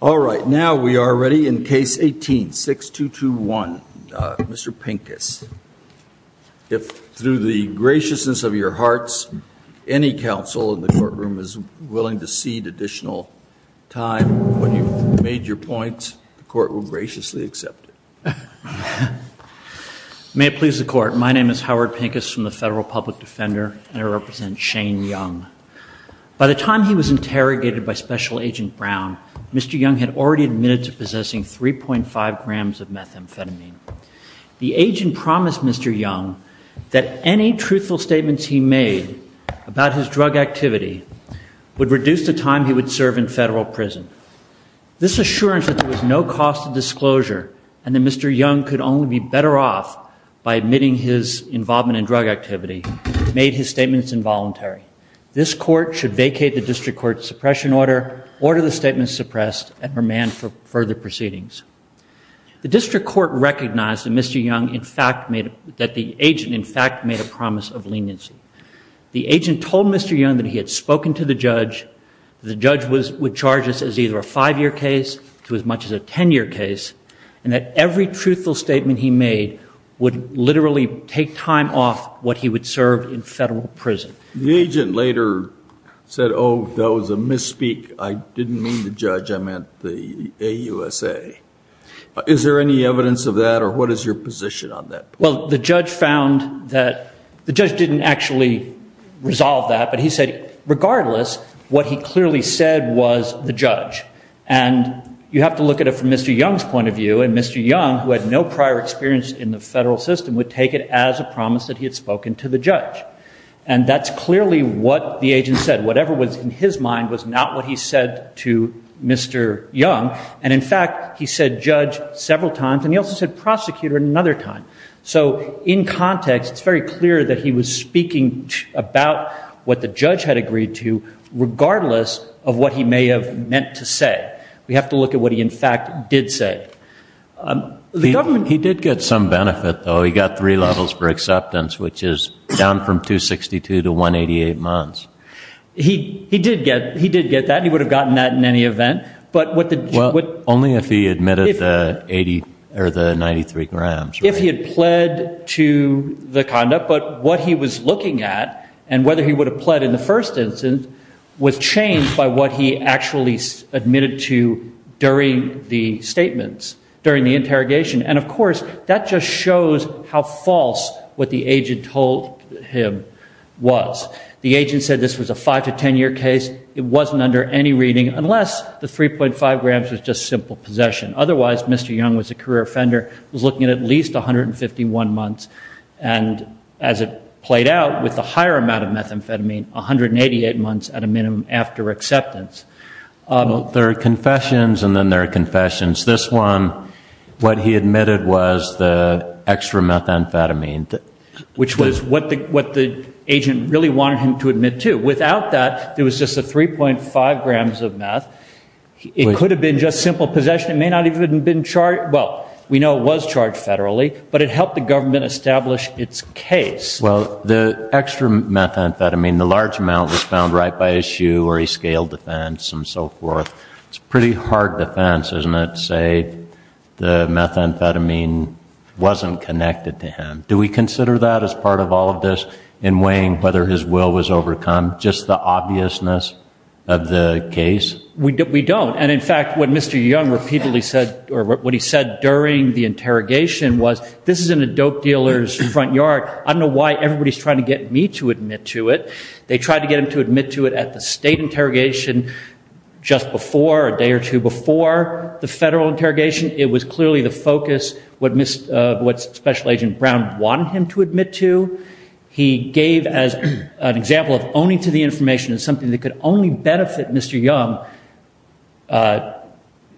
all right now we are ready in case 18 6 2 2 1 mr. Pincus if through the graciousness of your hearts any counsel in the courtroom is willing to cede additional time when you made your point the court will graciously accept it may it please the court my name is Howard Pincus from the Federal Public Defender and I represent Shane Young by the time he was interrogated by special agent Brown mr. Young had already admitted to possessing 3.5 grams of methamphetamine the agent promised mr. Young that any truthful statements he made about his drug activity would reduce the time he would serve in federal prison this assurance that there was no cost of disclosure and the mr. Young could only be better off by admitting his involvement in drug activity made his statements involuntary this court should vacate the district court suppression order order the statement suppressed and her man for further proceedings the district court recognized that mr. Young in fact made that the agent in fact made a promise of leniency the agent told mr. Young that he had spoken to the judge the judge was would charge us as either a five-year case to as much as a ten-year case and that every truthful statement he made would literally take time off what he would serve in federal prison the agent later said oh that was a misspeak I didn't mean the judge I meant the a USA is there any evidence of that or what is your position on that well the judge found that the judge didn't actually resolve that but he said regardless what he clearly said was the judge and you have to look at it from mr. Young's point of view and mr. Young who had no prior experience in the federal system would take it as a promise that he had spoken to the judge and that's clearly what the agent said whatever was in his mind was not what he said to mr. Young and in fact he said judge several times and he also said prosecutor another time so in context it's very clear that he was speaking about what the judge had agreed to regardless of what he may have meant to say we have to look at what he in fact did say the government he did get some benefit though he got three levels for he he did get he did get that he would have gotten that in any event but what the only if he admitted the 80 or the 93 grams if he had pled to the conduct but what he was looking at and whether he would have pled in the first instance was changed by what he actually admitted to during the statements during the interrogation and of course that just shows how false what the agent told him was the agent said this was a 5 to 10 year case it wasn't under any reading unless the 3.5 grams was just simple possession otherwise mr. Young was a career offender was looking at least 151 months and as it played out with the higher amount of methamphetamine 188 months at a minimum after acceptance there are confessions and then there are confessions this one what he admitted was the extra methamphetamine which was what the what the agent really wanted him to admit to without that there was just a 3.5 grams of meth it could have been just simple possession it may not even been charged well we know it was charged federally but it helped the government establish its case well the extra methamphetamine the large amount was found right by issue or he scaled defense and so forth it's pretty hard defense isn't it say the methamphetamine wasn't connected to him do we consider that as part of all of this in weighing whether his will was overcome just the obviousness of the case we did we don't and in fact when mr. young repeatedly said or what he said during the interrogation was this is in a dope dealers front yard I don't know why everybody's trying to get me to admit to it they tried to get him to admit to it at the state interrogation just before a day or two before the clearly the focus would miss what special agent Brown wanted him to admit to he gave as an example of owning to the information is something that could only benefit mr. young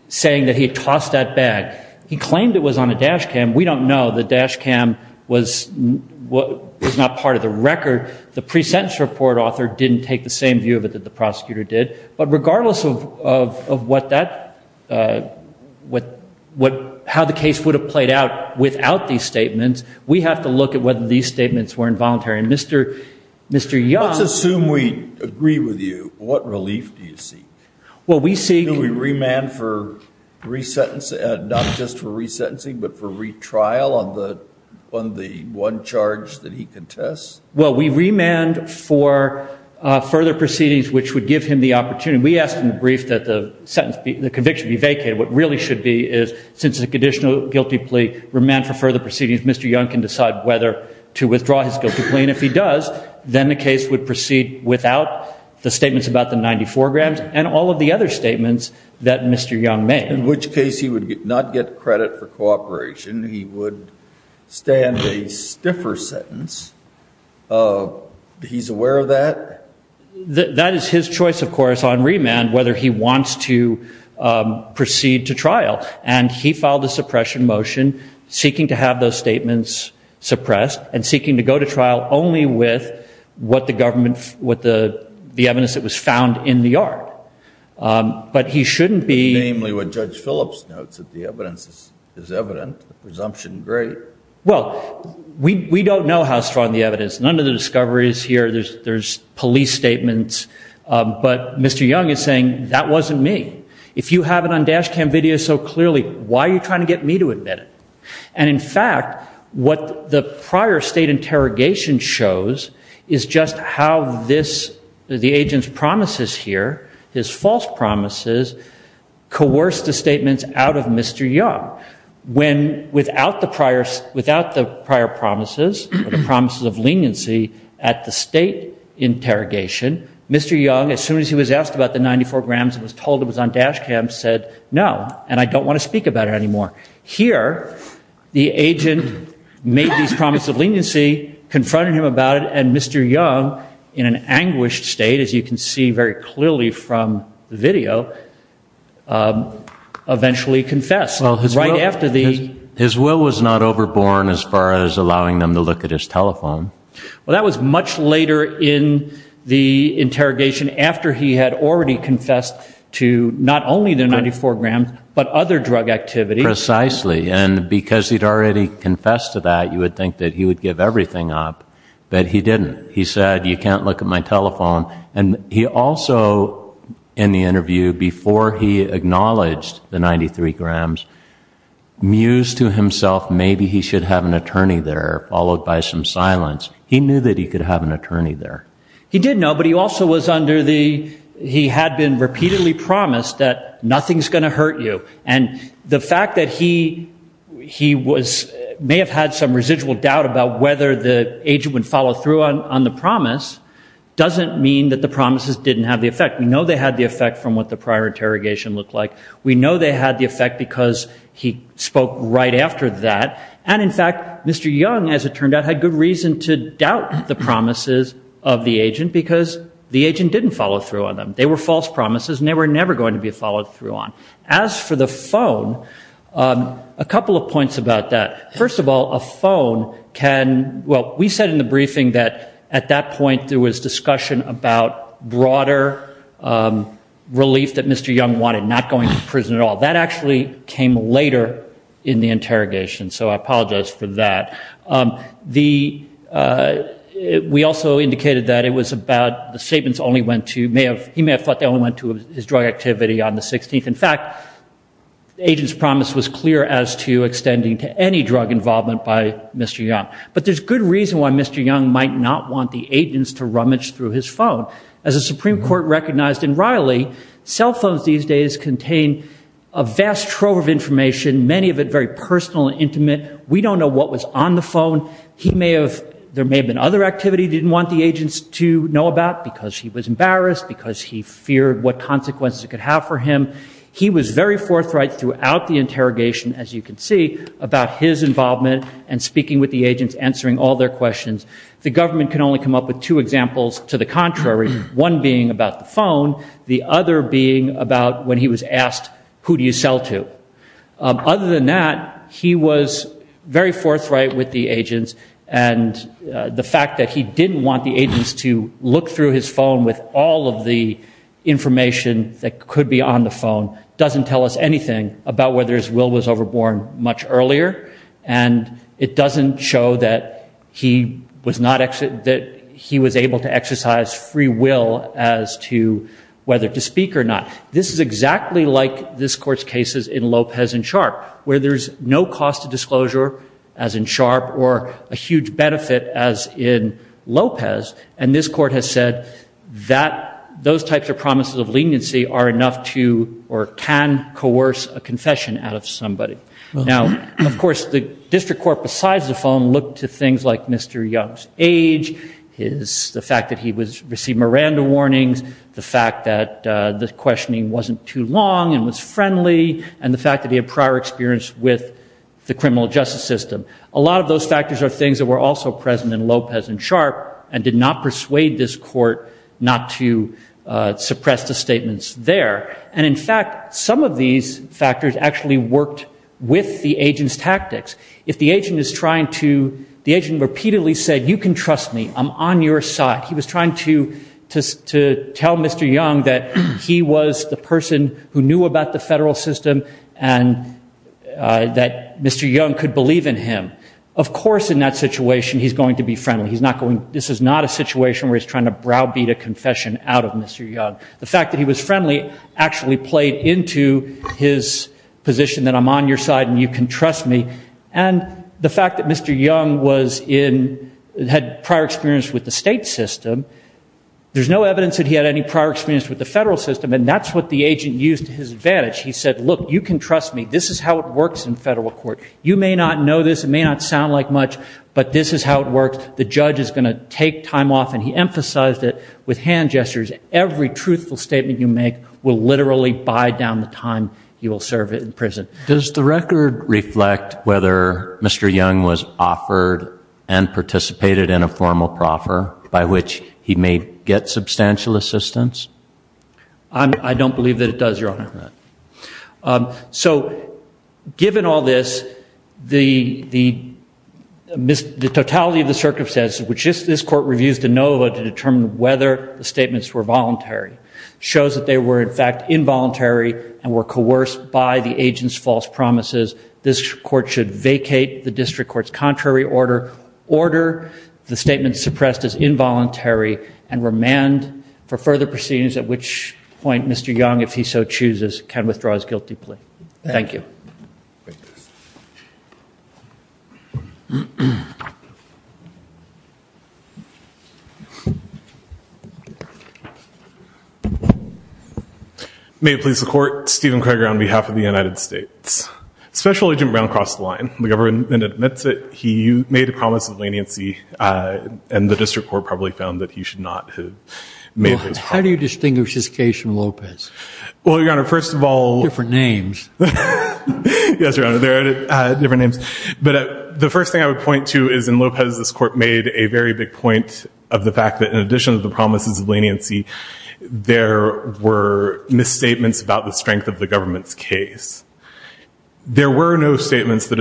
saying that he tossed that bag he claimed it was on a dash cam we don't know the dash cam was what was not part of the record the present support author didn't take the same view of it that the prosecutor did regardless of what that what what how the case would have played out without these statements we have to look at whether these statements were involuntary mr. mr. young assume we agree with you what relief do you see what we see we remand for resentence and not just for resentencing but for retrial on the on the one charge that he contests well we remand for further proceedings which would give him the opportunity we asked him to brief that the sentence the conviction be vacated what really should be is since the conditional guilty plea remand for further proceedings mr. young can decide whether to withdraw his guilty plea and if he does then the case would proceed without the statements about the 94 grams and all of the other statements that mr. young made in which case he would not get credit for cooperation he would stand a stiffer sentence he's aware of that that is his choice of course on remand whether he wants to proceed to trial and he filed a suppression motion seeking to have those statements suppressed and seeking to go to trial only with what the government what the the evidence that was found in the yard but he shouldn't be namely what judge Phillips notes that the evidence is evident presumption great well we don't know how strong the evidence none of the discoveries here there's there's police statements but mr. young is saying that wasn't me if you have it on dash cam video so clearly why are you trying to get me to admit it and in fact what the prior state interrogation shows is just how this the agents promises here his false promises coerced the young when without the prior without the prior promises the promises of leniency at the state interrogation mr. young as soon as he was asked about the 94 grams it was told it was on dash cam said no and I don't want to speak about it anymore here the agent made these promise of leniency confronting him about it and mr. young in an anguished state as you can see very clearly from video eventually confessed well it's right after the his will was not overborn as far as allowing them to look at his telephone well that was much later in the interrogation after he had already confessed to not only the 94 grams but other drug activity precisely and because he'd already confessed to that you would think that he would give everything up but he didn't he said you can't look at my telephone and he also in the interview before he acknowledged the 93 grams mused to himself maybe he should have an attorney there followed by some silence he knew that he could have an attorney there he didn't know but he also was under the he had been repeatedly promised that nothing's gonna hurt you and the fact that he he was may have had some residual doubt about whether the agent would follow through on on the promise doesn't mean that the promises didn't have the effect we know they had the effect from what the prior interrogation look like we know they had the effect because he spoke right after that and in fact mr. young as it turned out had good reason to doubt the promises of the agent because the agent didn't follow through on them they were false promises never never going to be followed through on as for the phone a well we said in the briefing that at that point there was discussion about broader relief that mr. young wanted not going to prison at all that actually came later in the interrogation so I apologize for that the we also indicated that it was about the statements only went to may have he may have thought they only went to his drug activity on the 16th in fact agents promise was clear as to extending to any drug involvement by mr. young but there's good reason why mr. young might not want the agents to rummage through his phone as a Supreme Court recognized in Riley cell phones these days contain a vast trove of information many of it very personal intimate we don't know what was on the phone he may have there may have been other activity didn't want the agents to know about because he was embarrassed because he feared what consequences could have for him he was very forthright throughout the interrogation as you can see about his involvement and speaking with the agents answering all their questions the government can only come up with two examples to the contrary one being about the phone the other being about when he was asked who do you sell to other than that he was very forthright with the agents and the fact that he didn't want the agents to look through his phone with all of the information that could be on the phone doesn't tell us anything about whether his will was overborn much earlier and it doesn't show that he was not exit that he was able to exercise free will as to whether to speak or not this is exactly like this court's cases in Lopez and sharp where there's no cost of disclosure as in sharp or a huge benefit as in Lopez and this court has said that those types of promises of leniency are enough to or can coerce a confession out of somebody now of course the district court besides the phone look to things like mr. Young's age is the fact that he was received Miranda warnings the fact that the questioning wasn't too long and was friendly and the fact that he had prior experience with the criminal justice system a lot of those factors are things that were also present in Lopez and sharp and did not persuade this court not to suppress the statements there and in fact some of these factors actually worked with the agents tactics if the agent is trying to the agent repeatedly said you can trust me I'm on your side he was trying to just to tell mr. young that he was the person who knew about the federal system and that mr. young could believe in him of course in that situation he's going to be friendly he's not going this is not a situation where he's trying to browbeat a confession out of mr. young the fact that he was into his position that I'm on your side and you can trust me and the fact that mr. young was in had prior experience with the state system there's no evidence that he had any prior experience with the federal system and that's what the agent used to his advantage he said look you can trust me this is how it works in federal court you may not know this it may not sound like much but this is how it works the judge is going to take time off and he emphasized it with hand gestures every truthful statement you make will literally buy down the time you will serve it in prison does the record reflect whether mr. young was offered and participated in a formal proffer by which he may get substantial assistance I don't believe that it does your honor so given all this the the miss the totality of the circumstances which is this court reviews to know how to determine whether the statements were involuntary and were coerced by the agents false promises this court should vacate the district court's contrary order order the statement suppressed as involuntary and remand for further proceedings at which point mr. young if may please the court Stephen Craig on behalf of the United States special agent Brown crossed the line the government admits it he made a promise of leniency and the district court probably found that he should not have made how do you distinguish this case from Lopez well your honor first of all different names yes your honor there are different names but the first thing I would point to is in Lopez this court made a very big point of the fact that in addition to the promises of leniency there were misstatements about the strength of the government's case there were no statements that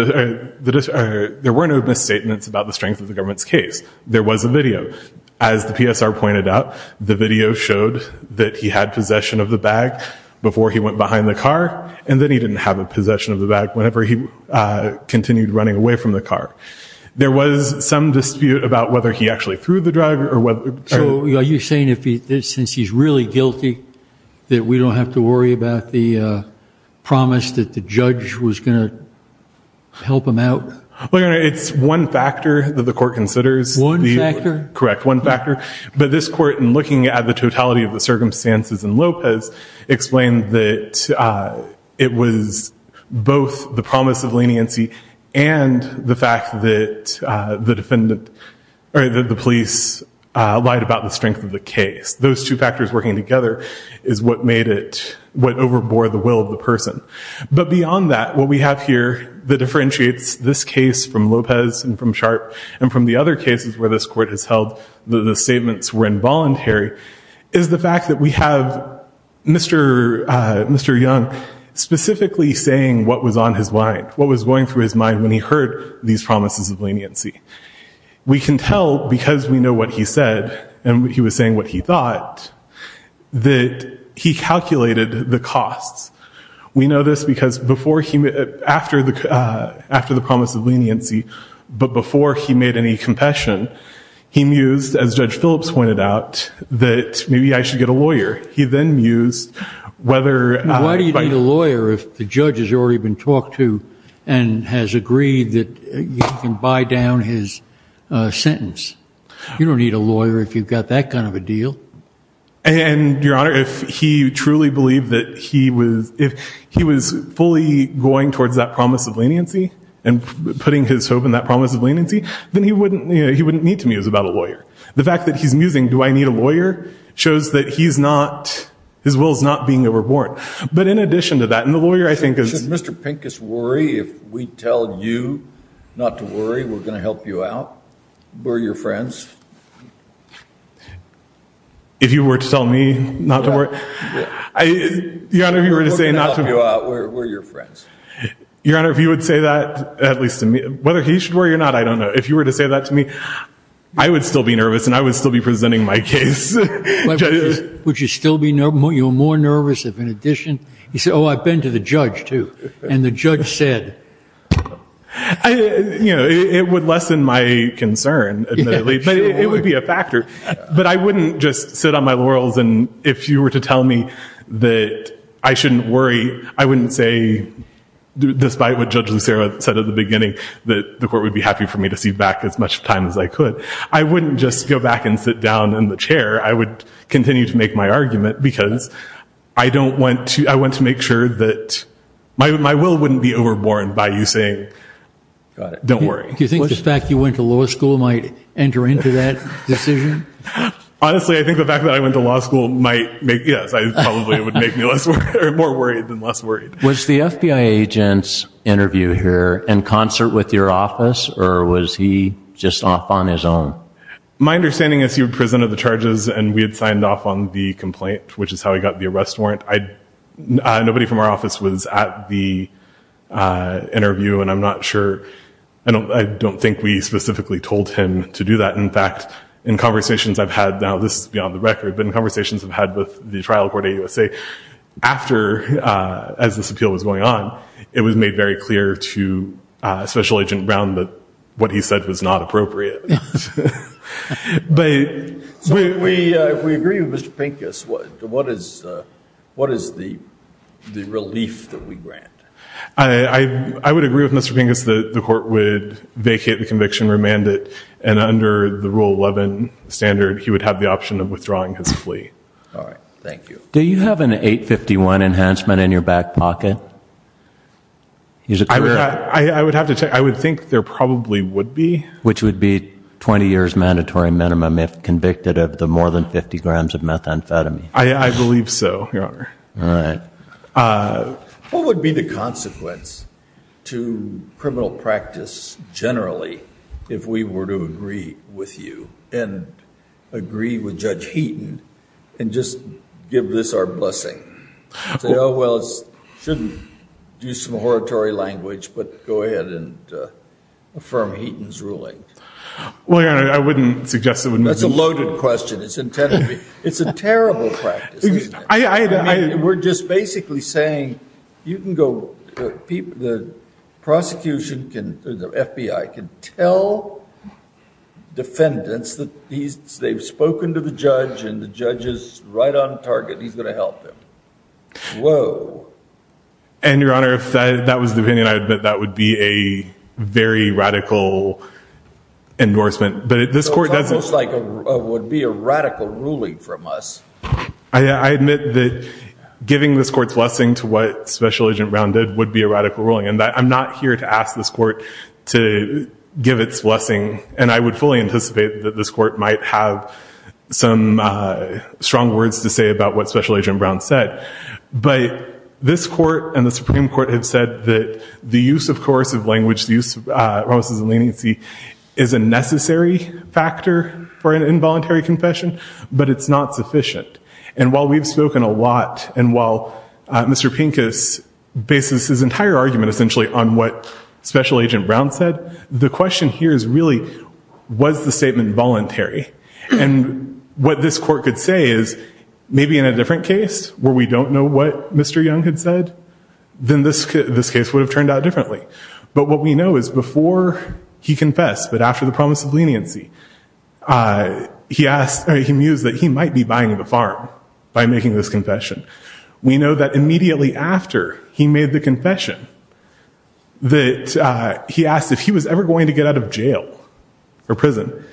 there were no misstatements about the strength of the government's case there was a video as the PSR pointed out the video showed that he had possession of the bag before he went behind the car and then he didn't have a possession of the bag whenever he continued running away from the car there was some dispute about whether he actually threw the drug or whether you're saying if he since he's really guilty that we don't have to worry about the promise that the judge was gonna help him out well your honor it's one factor that the court considers one factor correct one factor but this court and looking at the totality of the circumstances and Lopez explained that it was both the promise of leniency and the fact that the defendant or the police lied about the strength of the case those two factors working together is what made it what overbore the will of the person but beyond that what we have here that differentiates this case from Lopez and from sharp and from the other cases where this court has held the statements were involuntary is the fact that we was going through his mind when he heard these promises of leniency we can tell because we know what he said and what he was saying what he thought that he calculated the costs we know this because before he met after the after the promise of leniency but before he made any confession he mused as judge Phillips pointed out that maybe I should get a lawyer he then used whether why do lawyer if the judge has already been talked to and has agreed that you can buy down his sentence you don't need a lawyer if you've got that kind of a deal and your honor if he truly believed that he was if he was fully going towards that promise of leniency and putting his hope in that promise of leniency then he wouldn't you know he wouldn't need to me is about a lawyer the fact that he's musing do I need a lawyer shows that he's not his will is not being overbought but in addition to that and the lawyer I think is mr. Pincus worry if we tell you not to worry we're gonna help you out we're your friends if you were to tell me not to work I your honor you were to say not to go out we're your friends your honor if you would say that at least to me whether he should worry or not I don't know if you were to say that to me I would still be nervous and I would still be presenting my case which is still be no more you're more nervous if in addition he said oh I've been to the judge too and the judge said you know it would lessen my concern it would be a factor but I wouldn't just sit on my laurels and if you were to tell me that I shouldn't worry I wouldn't say despite what judge Lucero said at the beginning that the court would be happy for me to see back as much time as I could I wouldn't just go back and sit down in the chair I would continue to make my argument because I don't want to I want to make sure that my will wouldn't be overborne by you saying don't worry do you think this fact you went to law school might enter into that decision honestly I think the fact that I went to law school might make yes I probably would make me less or more worried than less worried was the FBI agents interview here in concert with your office or was he just off on his own my understanding is he would present of the charges and we had signed off on the complaint which is how he got the arrest warrant I nobody from our office was at the interview and I'm not sure I don't I don't think we specifically told him to do that in fact in conversations I've had now this is beyond the record but in conversations I've had with the trial court a USA after as this appeal was going on it was made very clear to Special Agent Brown that what he said was not appropriate but we we agree with mr. Pinkus what what is what is the relief that we grant I I would agree with mr. Bingus that the court would vacate the conviction remanded and under the rule 11 standard he would have the option of withdrawing his plea all right thank you do you have an 851 enhancement in your back pocket I would have to say I would think there probably would be which would be 20 years mandatory minimum if convicted of the more than 50 grams of methamphetamine I believe so your honor all right what would be the consequence to criminal practice generally if we were to agree with you and agree with judge Heaton and just give this our blessing oh well shouldn't do some oratory language but go ahead and affirm Heaton's ruling well yeah I wouldn't suggest it when that's a loaded question it's intended it's a terrible practice I we're just basically saying you can go people the prosecution can the FBI can tell defendants that they've spoken to the judge and the judge is right on target he's gonna help them whoa and your honor if that was the opinion I admit that would be a very radical endorsement but this court doesn't like it would be a radical ruling from us I admit that giving this court's blessing to what special agent rounded would be a radical ruling and that I'm not here to ask this court to give its blessing and I would fully anticipate that this court might have some strong words to say about what special agent Brown said but this court and the Supreme Court have said that the use of coercive language the use of leniency is a necessary factor for an involuntary confession but it's not sufficient and while we've spoken a lot and while mr. Pincus basis his entire argument essentially on what special agent Brown said the question here is really was the statement voluntary and what this court could say is maybe in a different case where we don't know what mr. young had said then this could this case would have turned out differently but what we know is before he confessed but after the promise of leniency he asked he mused that he might be buying the farm by making this confession we know that immediately after he made the that he asked if he was ever going to get out of jail or prison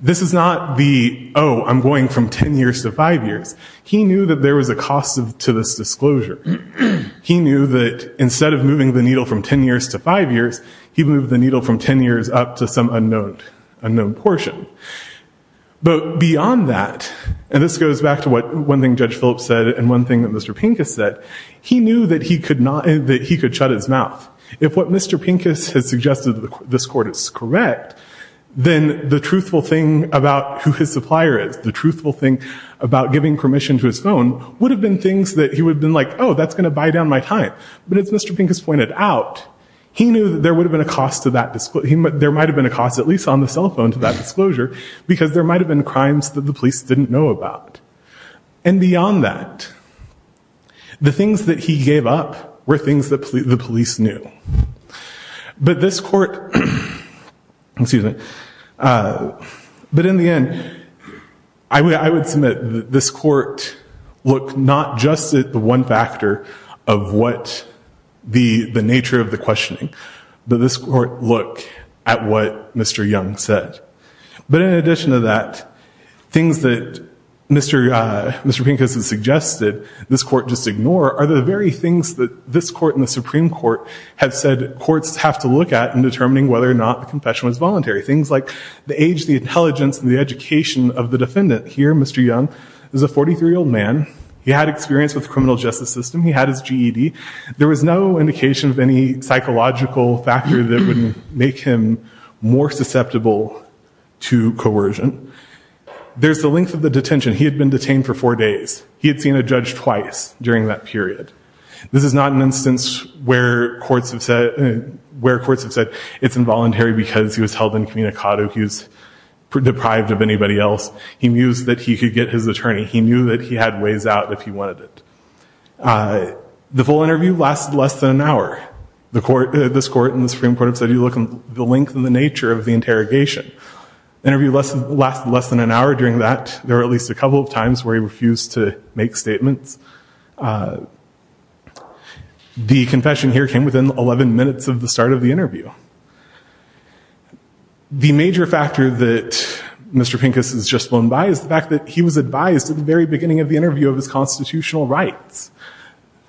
this is not the oh I'm going from ten years to five years he knew that there was a cost to this disclosure he knew that instead of moving the needle from ten years to five years he moved the needle from ten years up to some unknown unknown portion but beyond that and this goes back to what one thing judge Phillips said and one thing that mr. Pincus said he knew that he could not that he could shut his mouth if what mr. Pincus has suggested that this court is correct then the truthful thing about who his supplier is the truthful thing about giving permission to his phone would have been things that he would been like oh that's gonna buy down my time but it's mr. Pincus pointed out he knew that there would have been a cost to that display he might there might have been a cost at least on the cell phone to that disclosure because there might have been crimes that the police didn't know about and beyond that the things that he gave up were things that the police knew but this court excuse me but in the end I would I would submit this court look not just at the one factor of what the the nature of the questioning but this court look at what mr. Young said but in things that mr. mr. Pincus has suggested this court just ignore are the very things that this court in the Supreme Court have said courts have to look at in determining whether or not the confession was voluntary things like the age the intelligence and the education of the defendant here mr. young is a 43 old man he had experience with the criminal justice system he had his GED there was no indication of any psychological factor that would make him more susceptible to coercion there's the length of the detention he had been detained for four days he had seen a judge twice during that period this is not an instance where courts have said where courts have said it's involuntary because he was held in communicado he was deprived of anybody else he knews that he could get his attorney he knew that he had ways out if he wanted it the full interview lasted less than an hour the court this court in the Supreme Court have said you look at the length and the nature of the interrogation interview less and less less than an hour during that there are at least a couple of times where he refused to make statements the confession here came within 11 minutes of the start of the interview the major factor that mr. Pincus has just flown by is the fact that he was advised at the very beginning of the interview of his constitutional rights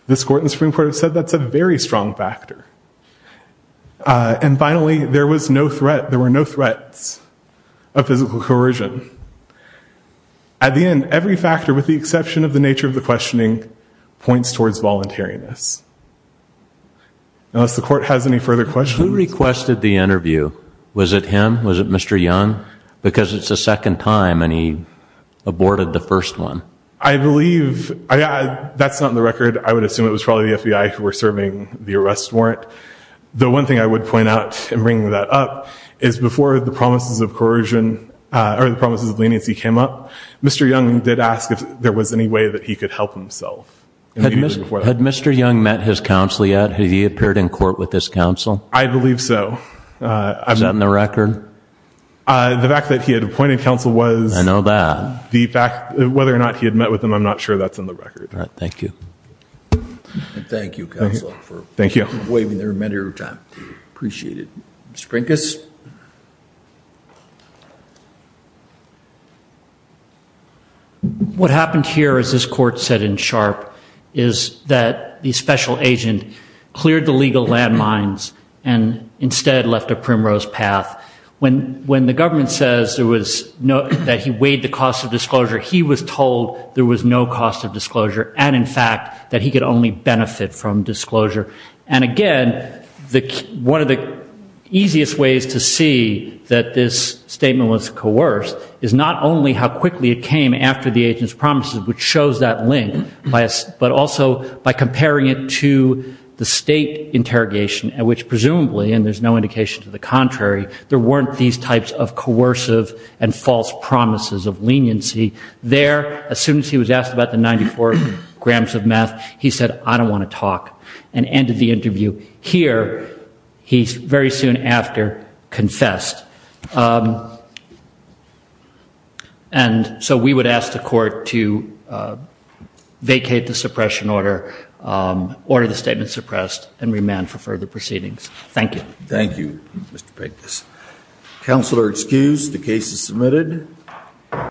this court in strong factor and finally there was no threat there were no threats of physical coercion at the end every factor with the exception of the nature of the questioning points towards voluntariness unless the court has any further question requested the interview was it him was it mr. young because it's the second time and he aborted the first one I believe I got that's not in the arrest warrant the one thing I would point out and bring that up is before the promises of coercion or the promises of leniency came up mr. young did ask if there was any way that he could help himself had mr. young met his counsel yet he appeared in court with this counsel I believe so I'm not in the record the fact that he had appointed counsel was I know that the fact whether or not he had met with him I'm not sure that's in the thank you waiting there a matter of time appreciated spring guess what happened here is this court said in sharp is that the special agent cleared the legal landmines and instead left a primrose path when when the government says there was no that he weighed the cost of disclosure he was told there was no cost of disclosure and in fact that he could only benefit from and again the one of the easiest ways to see that this statement was coerced is not only how quickly it came after the agents promises which shows that link by us but also by comparing it to the state interrogation at which presumably and there's no indication to the contrary there weren't these types of coercive and false promises of leniency there as soon as he was asked about the 94 grams of meth he said I don't want to talk and ended the interview here he's very soon after confessed and so we would ask the court to vacate the suppression order order the statement suppressed and remand for further proceedings thank you thank you mr. Peck this counselor excused the case is submitted